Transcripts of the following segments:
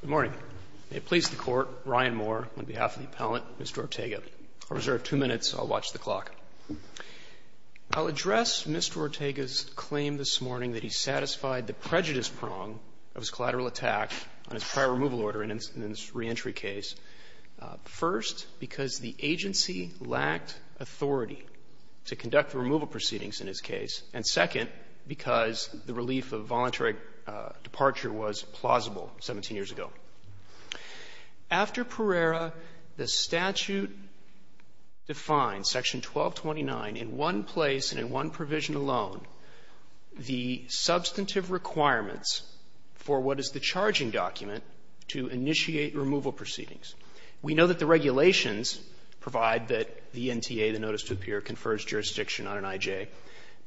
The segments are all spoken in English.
Good morning. May it please the Court, Ryan Moore, on behalf of the Appellant, Mr. Ortega. I'll reserve two minutes. I'll watch the clock. I'll address Mr. Ortega's claim this morning that he satisfied the prejudice prong of his collateral attack on his prior removal order in his reentry case, first, because the agency lacked authority to conduct the removal proceedings in his case, and second, because the relief of voluntary departure was plausible 17 years ago. After Pereira, the statute defines, Section 1229, in one place and in one provision alone, the substantive requirements for what is the charging document to initiate removal proceedings. We know that the regulations provide that the NTA, the notice to appear, confers jurisdiction on an I.J.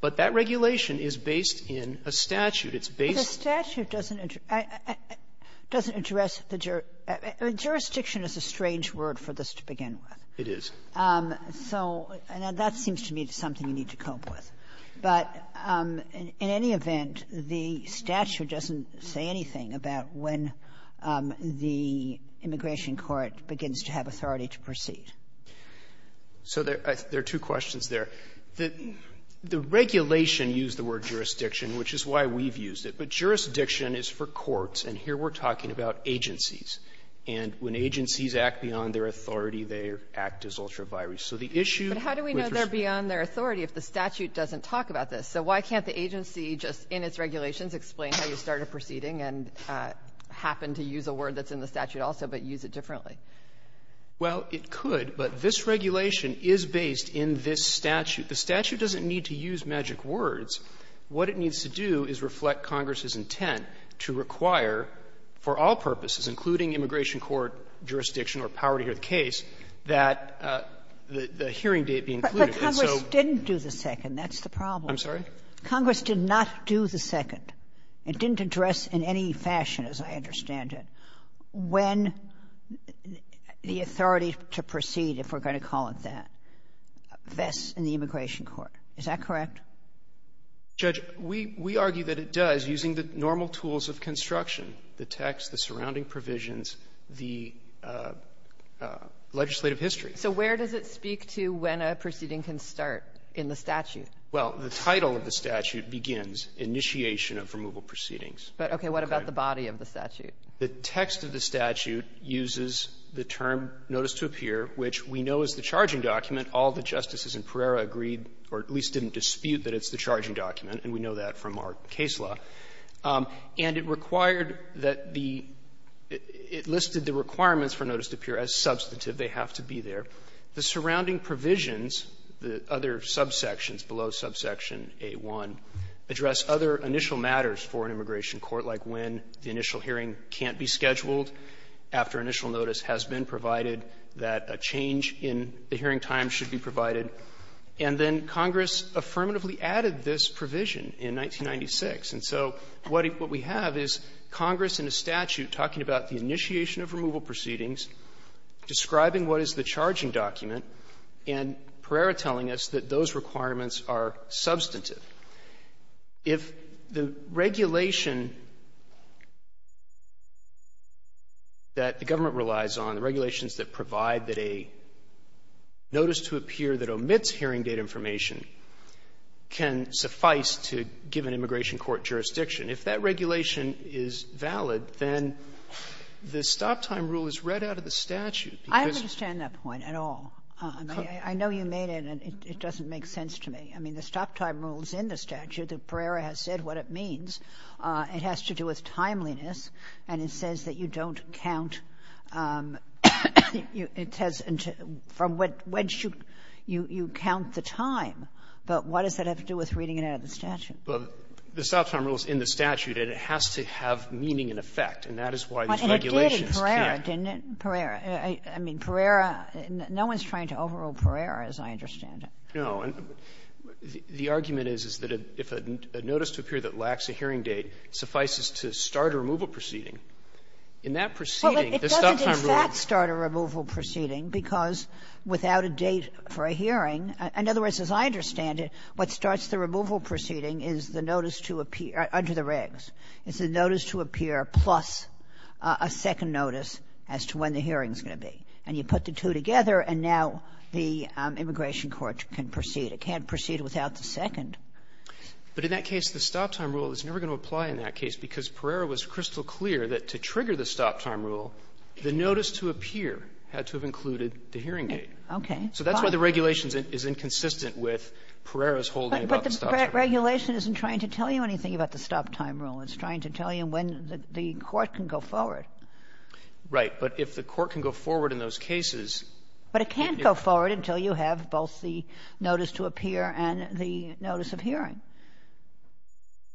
But that regulation is based in a statute. It's based at the statute doesn't address the jury. Jurisdiction is a strange word for this to begin with. It is. So that seems to me to be something you need to cope with. But in any event, the statute doesn't say anything about when the immigration court begins to have authority to proceed. So there are two questions there. The regulation used the word jurisdiction, which is why we've used it. But jurisdiction is for courts, and here we're talking about agencies. And when agencies act beyond their authority, they act as ultra vires. So the issue with respect to the statute is that the statute doesn't talk about this. So why can't the agency just in its regulations explain how you start a proceeding and happen to use a word that's in the statute also, but use it differently? Well, it could. But this regulation is based in this statute. The statute doesn't need to use magic words. What it needs to do is reflect Congress's intent to require, for all purposes, including immigration court jurisdiction or power to hear the case, that the hearing date be included. And so the statute doesn't do that. But Congress didn't do the second. That's the problem. I'm sorry? Congress did not do the second. It didn't address in any fashion, as I understand it, when the authority to proceed, if we're going to call it that, vests in the immigration court. Is that correct? Judge, we argue that it does using the normal tools of construction, the text, the surrounding provisions, the legislative history. So where does it speak to when a proceeding can start in the statute? Well, the title of the statute begins, Initiation of Removal Proceedings. But, okay, what about the body of the statute? The text of the statute uses the term, Notice to Appear, which we know is the charging document. All the justices in Pereira agreed, or at least didn't dispute, that it's the charging document, and we know that from our case law. And it required that the – it listed the requirements for Notice to Appear as substantive. They have to be there. The surrounding provisions, the other subsections below subsection A-1, address other initial matters for an immigration court, like when the initial hearing can't be scheduled after initial notice has been provided, that a change in the hearing time should be provided. And then Congress affirmatively added this provision in 1996. And so what we have is Congress in a statute talking about the initiation of removal proceedings, describing what is the charging document, and Pereira telling us that those requirements are substantive. If the regulation that the government relies on, the regulations that provide that a notice to appear that omits hearing date information can suffice to give an immigration court jurisdiction, if that regulation rule is read out of the statute because of the statute. Kagan. I don't understand that point at all. I mean, I know you made it, and it doesn't make sense to me. I mean, the stop-time rule is in the statute. The Pereira has said what it means. It has to do with timeliness, and it says that you don't count – it has – from when should you count the time. But what does that have to do with reading it out of the statute? The stop-time rule is in the statute, and it has to have meaning and effect. And that is why these regulations – Kagan. It did in Pereira, didn't it? Pereira. I mean, Pereira – no one's trying to overrule Pereira, as I understand it. No. And the argument is, is that if a notice to appear that lacks a hearing date suffices to start a removal proceeding, in that proceeding, the stop-time rule – Well, it doesn't, in fact, start a removal proceeding because without a date for a hearing – in other words, as I understand it, what starts the removal proceeding is the notice to appear under the regs. It's a notice to appear plus a second notice as to when the hearing's going to be. And you put the two together, and now the immigration court can proceed. It can't proceed without the second. But in that case, the stop-time rule is never going to apply in that case because Pereira was crystal clear that to trigger the stop-time rule, the notice to appear had to have included the hearing date. Okay. So that's why the regulation is inconsistent with Pereira's holding about the stop-time rule. Regulation isn't trying to tell you anything about the stop-time rule. It's trying to tell you when the court can go forward. Right. But if the court can go forward in those cases – But it can't go forward until you have both the notice to appear and the notice of hearing.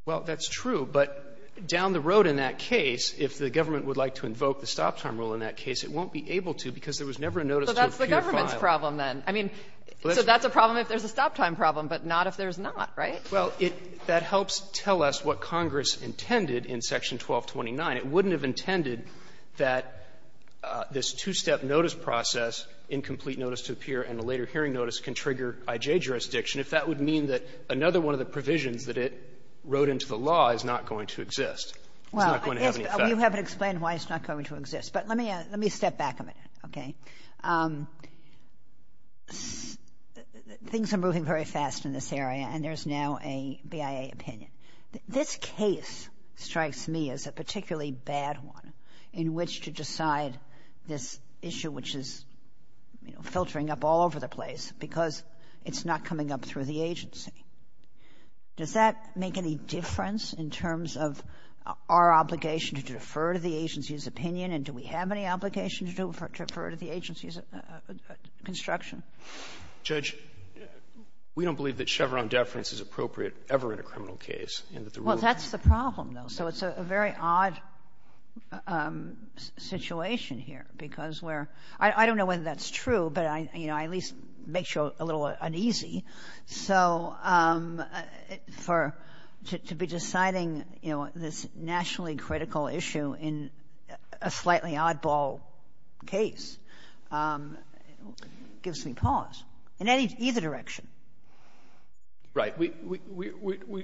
Well, that's true. But down the road in that case, if the government would like to invoke the stop-time rule in that case, it won't be able to because there was never a notice to appear filed. Well, that's the government's problem, then. I mean, so that's a problem if there's a stop-time problem, but not if there's not. Right? Well, it – that helps tell us what Congress intended in Section 1229. It wouldn't have intended that this two-step notice process, incomplete notice to appear and a later hearing notice, can trigger IJ jurisdiction if that would mean that another one of the provisions that it wrote into the law is not going to exist. It's not going to have any effect. Well, you haven't explained why it's not going to exist. But let me – let me step back a minute. Okay. Things are moving very fast in this area, and there's now a BIA opinion. This case strikes me as a particularly bad one in which to decide this issue, which is, you know, filtering up all over the place because it's not coming up through the agency. Does that make any difference in terms of our obligation to defer to the agency's construction? Judge, we don't believe that Chevron deference is appropriate ever in a criminal case. Well, that's the problem, though. So it's a very odd situation here because we're – I don't know whether that's true, but I, you know, I at least make sure it's a little uneasy. So for – to be deciding, you know, this nationally critical issue in a slightly oddball case gives me pause in any – either direction. Right. We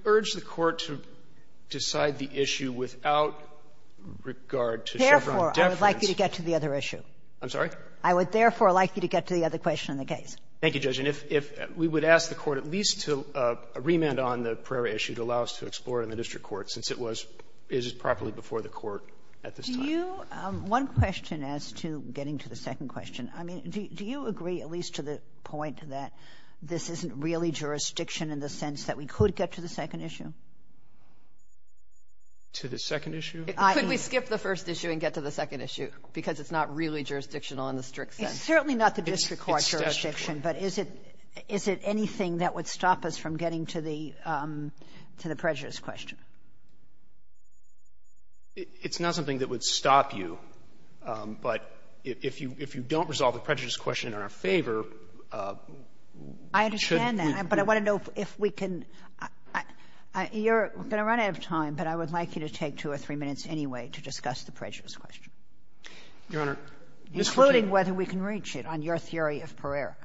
urge the Court to decide the issue without regard to Chevron deference. Therefore, I would like you to get to the other issue. I'm sorry? I would therefore like you to get to the other question in the case. Thank you, Judge. And if we would ask the Court at least to remand on the Pereira issue to allow us to explore in the district court since it was – it is properly before the Court at this time. Do you – one question as to getting to the second question. I mean, do you agree at least to the point that this isn't really jurisdiction in the sense that we could get to the second issue? To the second issue? Could we skip the first issue and get to the second issue because it's not really jurisdictional in the strict sense? It's certainly not the district court jurisdiction, but is it – is it anything that would stop us from getting to the – to the Pereira's question? It's not something that would stop you, but if you – if you don't resolve the prejudice question in our favor, we shouldn't be – I understand that, but I want to know if we can – you're going to run out of time, but I would like you to take two or three minutes anyway to discuss the prejudice question. Your Honor, Ms. Kagan – Including whether we can reach it on your theory of Pereira.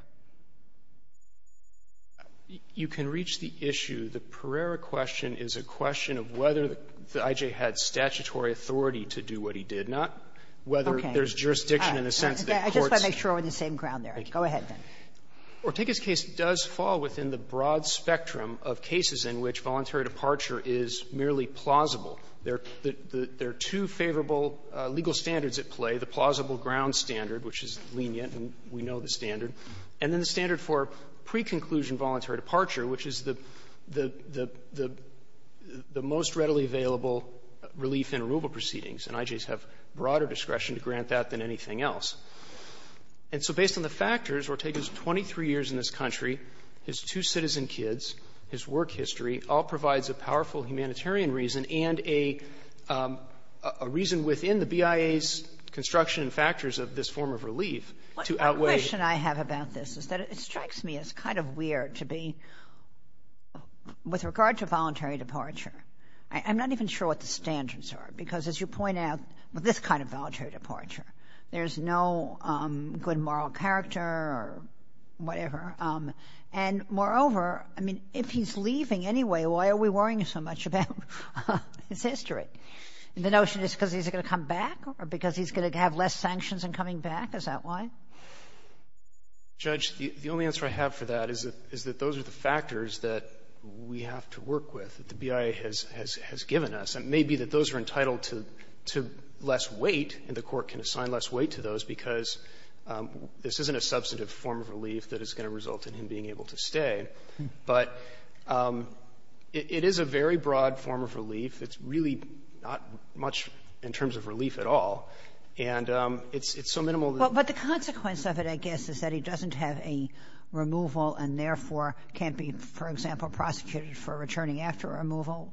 You can reach the issue. The Pereira question is a question of whether the I.J. had statutory authority to do what he did, not whether there's jurisdiction in the sense that courts – I just want to make sure we're on the same ground there. Go ahead, then. Ortega's case does fall within the broad spectrum of cases in which voluntary departure is merely plausible. There are two favorable legal standards at play, the plausible ground standard, which is lenient and we know the standard, and then the standard for pre-conclusion voluntary departure, which is the – the – the most readily available relief and removal proceedings. And I.J.'s have broader discretion to grant that than anything else. And so based on the factors, Ortega's 23 years in this country, his two citizen kids, his work history, all provides a powerful humanitarian reason and a reason within the BIA's construction and factors of this form of relief to outweigh – The question I have about this is that it strikes me as kind of weird to be – with regard to voluntary departure, I'm not even sure what the standards are. Because, as you point out, with this kind of voluntary departure, there's no good moral character or whatever, and, moreover, I mean, if he's leaving anyway, why are we worrying so much about his history? The notion is because he's going to come back or because he's going to have less sanctions in coming back, is that why? Judge, the only answer I have for that is that those are the factors that we have to work with, that the BIA has given us. And it may be that those are entitled to less weight, and the Court can assign less weight to those, because this isn't a substantive form of relief that is going to result in him being able to stay. But it is a very broad form of relief. It's really not much in terms of relief at all. And it's so minimal that – But the consequence of it, I guess, is that he doesn't have a removal and, therefore, can't be, for example, prosecuted for returning after a removal?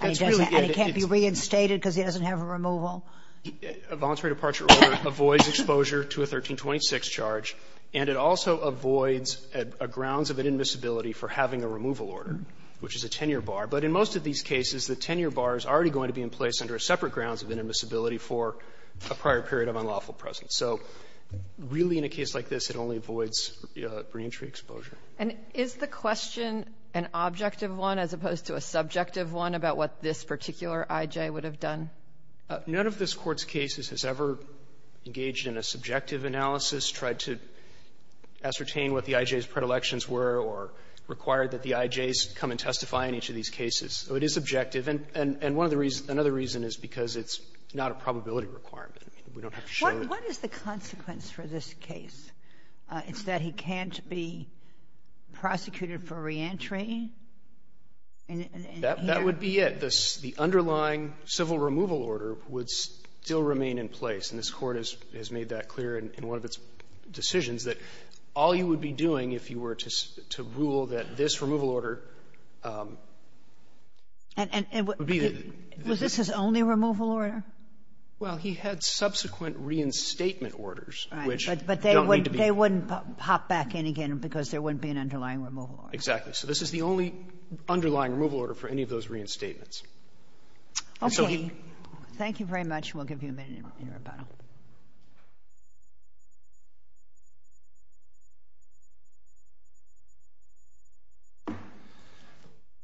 And he doesn't – and he can't be reinstated because he doesn't have a removal? A voluntary departure order avoids exposure to a 1326 charge, and it also avoids a grounds of inadmissibility for having a removal order, which is a 10-year bar. But in most of these cases, the 10-year bar is already going to be in place under a separate grounds of inadmissibility for a prior period of unlawful presence. So really, in a case like this, it only avoids reentry exposure. And is the question an objective one as opposed to a subjective one about what this particular I.J. would have done? None of this Court's cases has ever engaged in a subjective analysis, tried to ascertain what the I.J.'s predilections were, or required that the I.J.'s come and testify in each of these cases. So it is subjective. And one of the reasons – another reason is because it's not a probability requirement. I mean, we don't have to show it. What is the consequence for this case? It's that he can't be prosecuted for reentry? That would be it. The underlying civil removal order would still remain in place. And this Court has made that clear in one of its decisions, that all you would be doing, if you were to rule that this removal order would be the – And was this his only removal order? Well, he had subsequent reinstatement orders, which don't need to be – Right. But they wouldn't pop back in again because there wouldn't be an underlying removal order. Exactly. So this is the only underlying removal order for any of those reinstatements. And so he – Okay. Thank you very much. We'll give you a minute in rebuttal.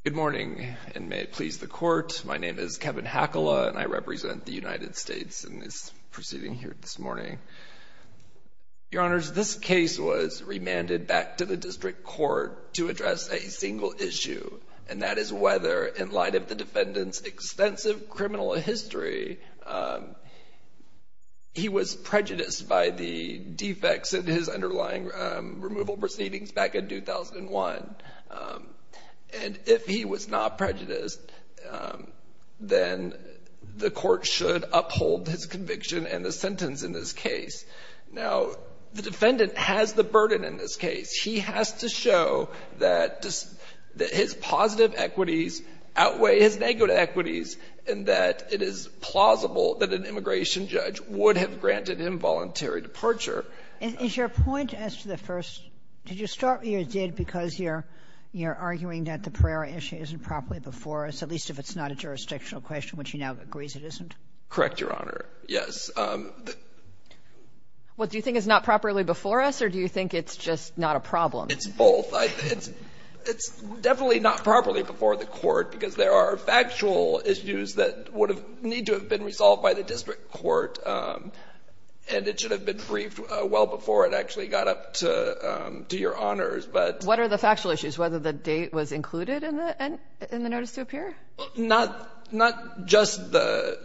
Good morning, and may it please the Court. My name is Kevin Hakala, and I represent the United States in this proceeding here this morning. Your Honors, this case was remanded back to the district court to address a single issue, and that is whether, in light of the defendant's extensive criminal history, he was prejudiced by the defects in his underlying removal proceedings back in 2001. And if he was not prejudiced, then the Court should uphold his conviction and the sentence in this case. Now, the defendant has the burden in this case. He has to show that his positive equities outweigh his negative equities, and that it is plausible that an immigration judge would have granted involuntary departure. Is your point as to the first – did you start – you did because you're – you're arguing that the Pereira issue isn't properly before us, at least if it's not a jurisdictional question, which he now agrees it isn't? Correct, Your Honor. Yes. Well, do you think it's not properly before us, or do you think it's just not a problem? It's both. It's definitely not properly before the Court, because there are factual issues that would have – need to have been resolved by the district court, and it should have been briefed well before it actually got up to your honors, but – What are the factual issues? Whether the date was included in the – in the notice to appear? Not – not just the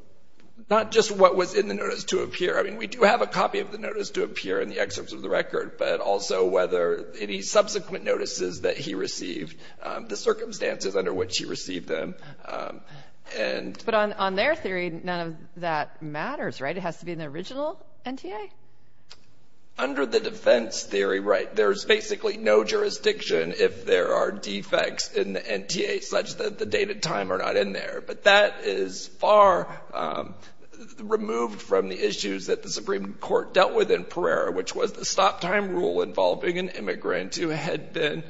– not just what was in the notice to appear. I mean, we do have a copy of the notice to appear in the excerpts of the record, but also whether – any subsequent notices that he received, the circumstances under which he received them, and – But on – on their theory, none of that matters, right? It has to be in the original NTA? Under the defense theory, right, there's basically no jurisdiction if there are defects in the NTA such that the date and time are not in there. But that is far removed from the issues that the Supreme Court dealt with in Pereira, which was the stop-time rule involving an immigrant who had been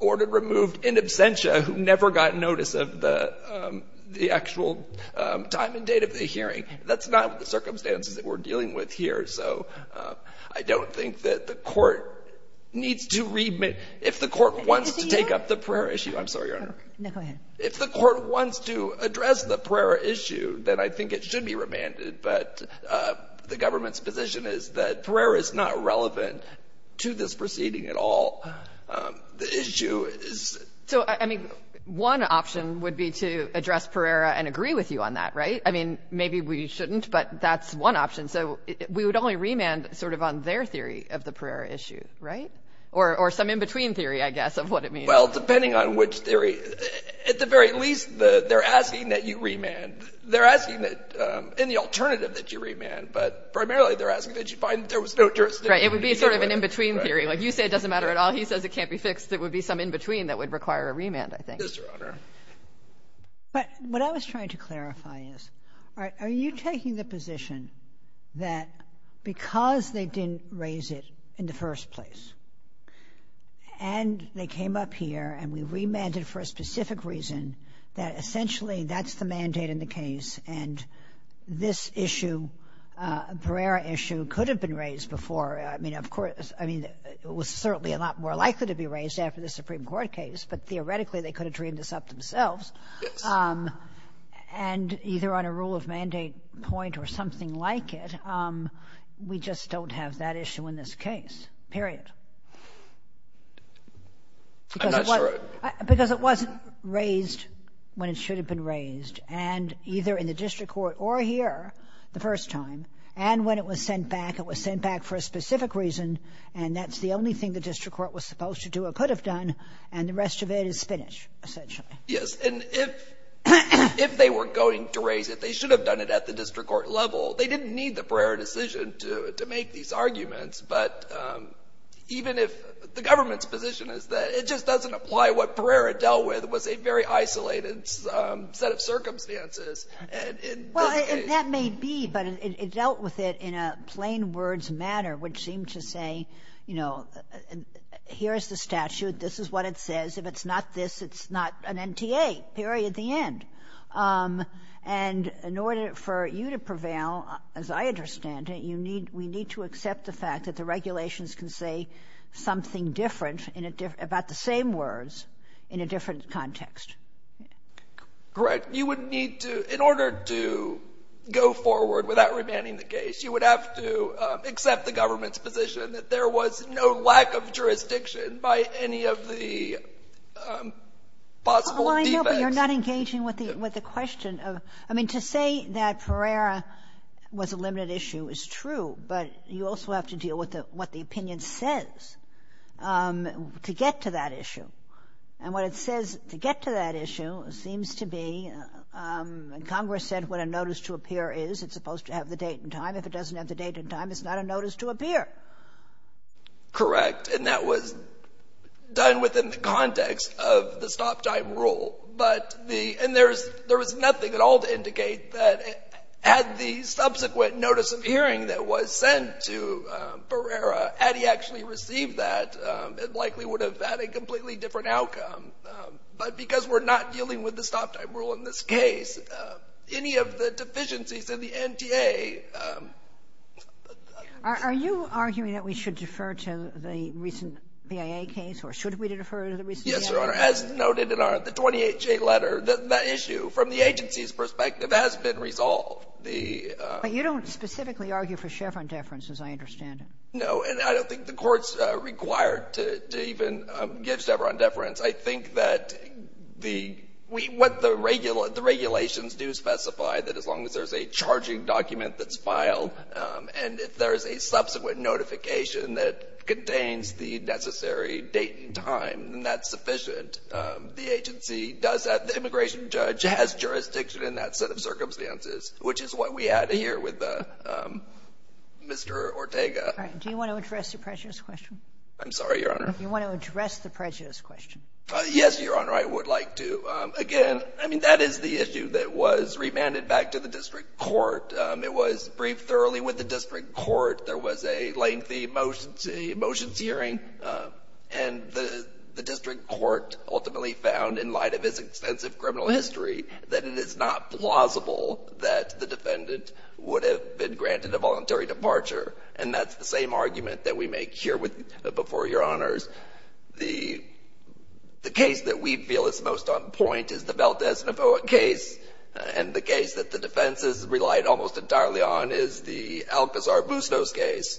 ordered removed in absentia who never got notice of the – the actual time and date of the hearing. That's not the circumstances that we're dealing with here, so I don't think that the Court needs to – if the Court wants to take up the Pereira issue – I'm sorry, Your Honor. No, go ahead. If the Court wants to address the Pereira issue, then I think it should be remanded, but the government's position is that Pereira is not relevant to this proceeding at all. The issue is – So, I mean, one option would be to address Pereira and agree with you on that, right? I mean, maybe we shouldn't, but that's one option. So we would only remand sort of on their theory of the Pereira issue, right? Or some in-between theory, I guess, of what it means. Well, depending on which theory – at the very least, they're asking that you remand. They're asking that – in the alternative that you remand, but primarily they're asking that you find that there was no jurisdiction to be given. Right. It would be sort of an in-between theory. Like, you say it doesn't matter at all. He says it can't be fixed. There would be some in-between that would require a remand, I think. Yes, Your Honor. But what I was trying to clarify is, all right, are you taking the position that because they didn't raise it in the first place and they came up here and we remanded for a specific reason, that essentially that's the mandate in the case, and this issue, Pereira issue, could have been raised before. I mean, of course – I mean, it was certainly a lot more likely to be raised after the Supreme Court case, but theoretically they could have dreamed this up themselves. Yes. And either on a rule of mandate point or something like it, we just don't have that issue in this case, period. I'm not sure – Because it wasn't raised when it should have been raised, and either in the district court or here the first time. And when it was sent back, it was sent back for a specific reason, and that's the only thing the district court was supposed to do or could have done, and the rest of it is spinach, essentially. Yes. And if they were going to raise it, they should have done it at the district court level. They didn't need the Pereira decision to make these arguments. But even if the government's position is that it just doesn't apply, what Pereira dealt with was a very isolated set of circumstances. Well, that may be, but it dealt with it in a plain-words manner, which seemed to say, you know, here's the statute, this is what it says, if it's not this, it's not an NTA, period, the end. And in order for you to prevail, as I understand it, you need – we need to accept the fact that the regulations can say something different about the same words in a different context. Correct. You would need to – in order to go forward without remanding the case, you would have to accept the government's position that there was no lack of jurisdiction by any of the possible defects. Well, I know, but you're not engaging with the question of – I mean, to say that Pereira was a limited issue is true, but you also have to deal with what the opinion says to get to that issue. And what it says to get to that issue seems to be – and Congress said what a notice to appear is, it's supposed to have the date and time. If it doesn't have the date and time, it's not a notice to appear. Correct. And that was done within the context of the stop-time rule. But the – and there's – there was nothing at all to indicate that had the subsequent notice of hearing that was sent to Pereira, had he actually received that, it likely would have had a completely different outcome. But because we're not dealing with the stop-time rule in this case, any of the deficiencies in the NTA – Are you arguing that we should defer to the recent BIA case, or should we defer to the recent BIA case? Yes, Your Honor. As noted in our – the 28-J letter, the issue from the agency's perspective has been resolved. The – But you don't specifically argue for Chevron deference, as I understand it. No. And I don't think the Court's required to even give Chevron deference. I think that the – what the regulations do specify, that as long as there's a charging document that's filed and if there's a subsequent notification that contains the necessary date and time, then that's sufficient. The agency does that. The immigration judge has jurisdiction in that set of circumstances, which is what we had here with Mr. Ortega. Do you want to address the prejudice question? I'm sorry, Your Honor. You want to address the prejudice question. Yes, Your Honor, I would like to. Again, I mean, that is the issue that was remanded back to the district court. It was briefed thoroughly with the district court. There was a lengthy motions hearing, and the district court ultimately found in light of its extensive criminal history that it is not plausible that the defendant would have been granted a voluntary departure. And that's the same argument that we make here with – before Your Honors. The case that we feel is most on point is the Valdes-Navoa case, and the case that the defense has relied almost entirely on is the Alcazar-Bustos case.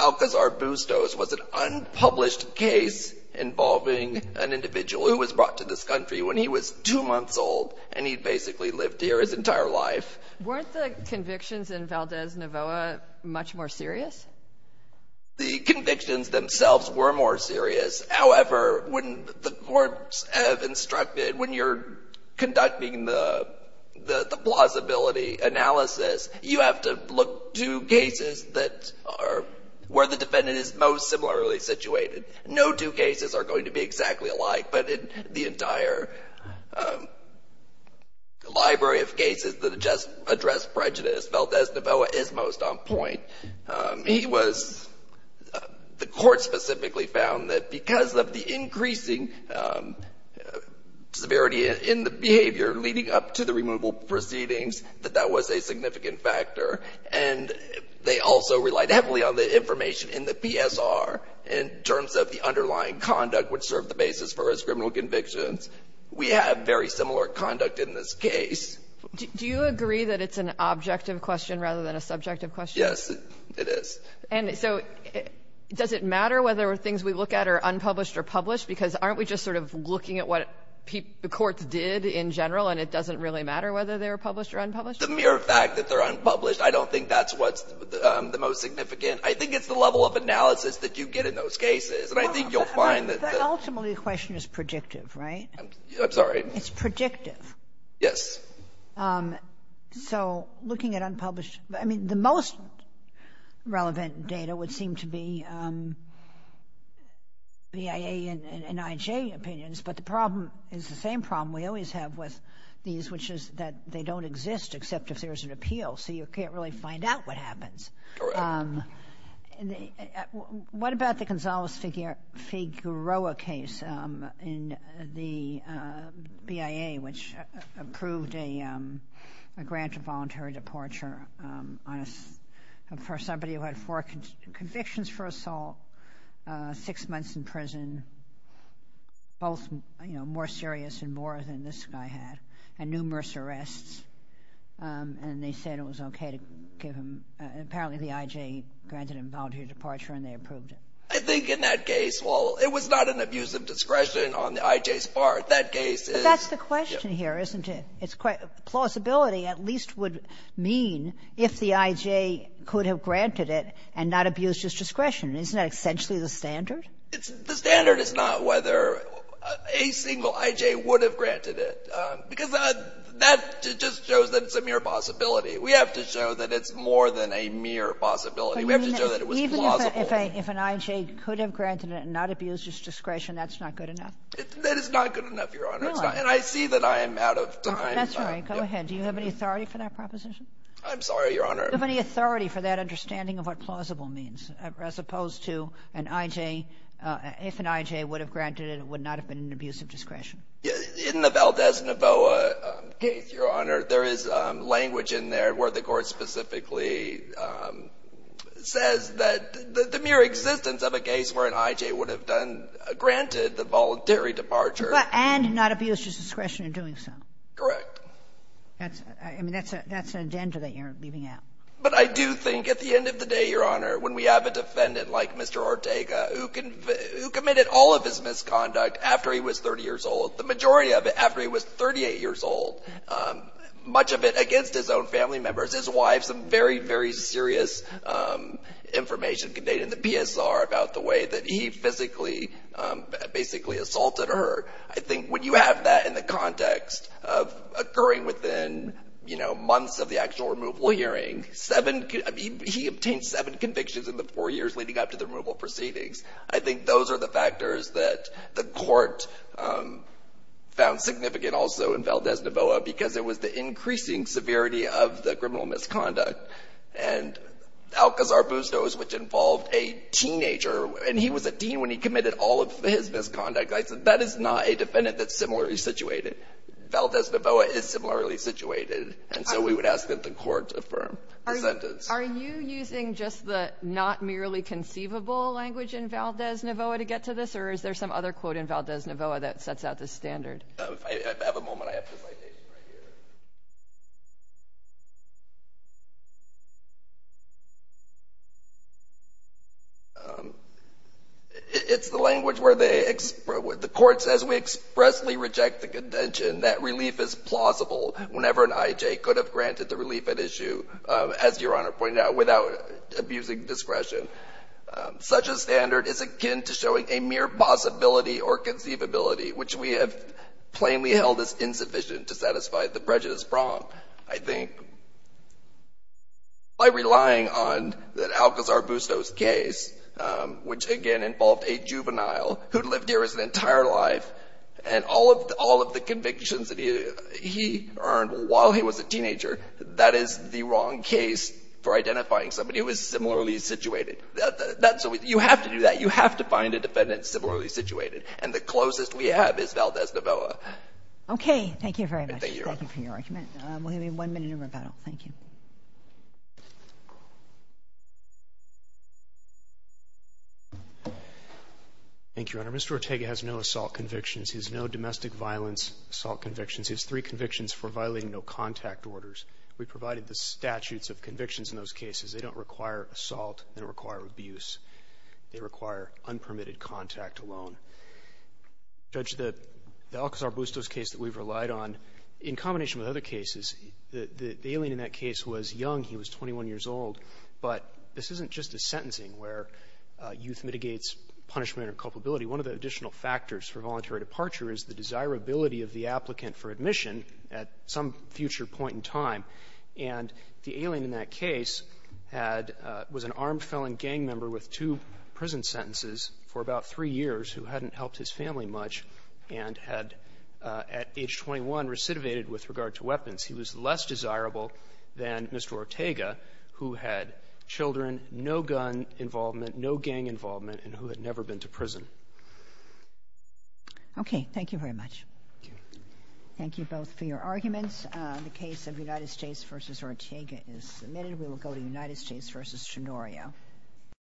Alcazar-Bustos was an unpublished case involving an individual who was brought to this country when he was two months old, and he basically lived here his entire life. Weren't the convictions in Valdes-Navoa much more serious? The convictions themselves were more serious. However, when the courts have instructed, when you're conducting the plausibility analysis, you have to look to cases that are – where the defendant is most similarly situated. No two cases are going to be exactly alike, but the entire library of cases that just address prejudice, Valdes-Navoa is most on point. He was – the court specifically found that because of the increasing severity in the behavior leading up to the removal proceedings, that that was a significant factor. And they also relied heavily on the information in the PSR in terms of the underlying conduct which served the basis for his criminal convictions. We have very similar conduct in this case. Do you agree that it's an objective question rather than a subjective question? Yes, it is. And so does it matter whether things we look at are unpublished or published? Because aren't we just sort of looking at what courts did in general, and it doesn't really matter whether they're published or unpublished? The mere fact that they're unpublished, I don't think that's what's the most significant. I think it's the level of analysis that you get in those cases, and I think you'll find that the — But ultimately, the question is predictive, right? I'm sorry? It's predictive. Yes. So looking at unpublished — I mean, the most relevant data would seem to be BIA and IJ opinions, but the problem is the same problem we always have with these, which is that they don't exist except if there's an appeal, so you can't really find out what happens. Correct. What about the Gonzales-Figueroa case in the BIA, which approved a grant of voluntary departure for somebody who had four convictions for assault, six months in prison, both more serious and more than this guy had, and numerous arrests, and they said it was okay to give him — apparently the IJ granted him voluntary departure and they approved it. I think in that case, while it was not an abuse of discretion on the IJ's part, that case is — But that's the question here, isn't it? It's quite — plausibility at least would mean if the IJ could have granted it and not abused his discretion. Isn't that essentially the standard? The standard is not whether a single IJ would have granted it, because that just shows that it's a mere possibility. We have to show that it's more than a mere possibility. We have to show that it was plausible. Even if an IJ could have granted it and not abused his discretion, that's not good enough? That is not good enough, Your Honor. Really? And I see that I am out of time. That's all right. Go ahead. Do you have any authority for that proposition? I'm sorry, Your Honor. Do you have any authority for that understanding of what plausible means, as opposed to an IJ — if an IJ would have granted it, it would not have been an abuse of discretion? In the Valdez-Navoa case, Your Honor, there is language in there where the court specifically says that the mere existence of a case where an IJ would have done — granted the voluntary departure — But — and not abused his discretion in doing so. Correct. That's — I mean, that's an agenda that you're leaving out. But I do think at the end of the day, Your Honor, when we have a defendant like Mr. Ortega, who committed all of his misconduct after he was 30 years old, the majority of it after he was 38 years old, much of it against his own family members, his wife, some very, very serious information condated in the PSR about the way that he physically basically assaulted her. I think when you have that in the context of occurring within, you know, months of the actual removal hearing, seven — I mean, he obtained seven convictions in the four years leading up to the removal proceedings. I think those are the factors that the court found significant also in Valdez-Navoa because it was the increasing severity of the criminal misconduct. And Alcazar-Bustos, which involved a teenager, and he was a teen when he committed all of his misconduct, I said, that is not a defendant that's similarly situated. Valdez-Navoa is similarly situated. And so we would ask that the court affirm the sentence. Are you using just the not merely conceivable language in Valdez-Navoa to get to this, or is there some other quote in Valdez-Navoa that sets out the standard? If I have a moment, I have the citation right here. It's the language where they — the court says, we expressly reject the contention that relief is plausible whenever an I.J. could have granted the relief at issue. As Your Honor pointed out, without abusing discretion. Such a standard is akin to showing a mere possibility or conceivability, which we have plainly held as insufficient to satisfy the prejudice prompt. I think by relying on the Alcazar-Bustos case, which again involved a juvenile who'd lived here his entire life, and all of the convictions that he earned while he was a teenager, that is the wrong case for identifying somebody who is similarly situated. That's what we — you have to do that. You have to find a defendant similarly situated. And the closest we have is Valdez-Navoa. Okay. Thank you very much. Thank you for your argument. We'll give you one minute of rebuttal. Thank you. Thank you, Your Honor. Mr. Ortega has no assault convictions. He has no domestic violence assault convictions. He has three convictions for violating no-contact orders. We provided the statutes of convictions in those cases. They don't require assault. They don't require abuse. They require unpermitted contact alone. Judge, the Alcazar-Bustos case that we've relied on, in combination with other cases, the alien in that case was young. He was 21 years old. But this isn't just a sentencing where youth mitigates punishment or culpability. One of the additional factors for voluntary departure is the desirability of the applicant for admission at some future point in time. And the alien in that case had — was an armed felon gang member with two prison sentences for about three years who hadn't helped his family much and had, at age 21, recidivated with regard to weapons. He was less desirable than Mr. Ortega, who had children, no gun involvement, no gang involvement, and who had never been to prison. Okay. Thank you very much. Thank you both for your arguments. The case of United States v. Ortega is submitted. We will go to United States v. Chonorio.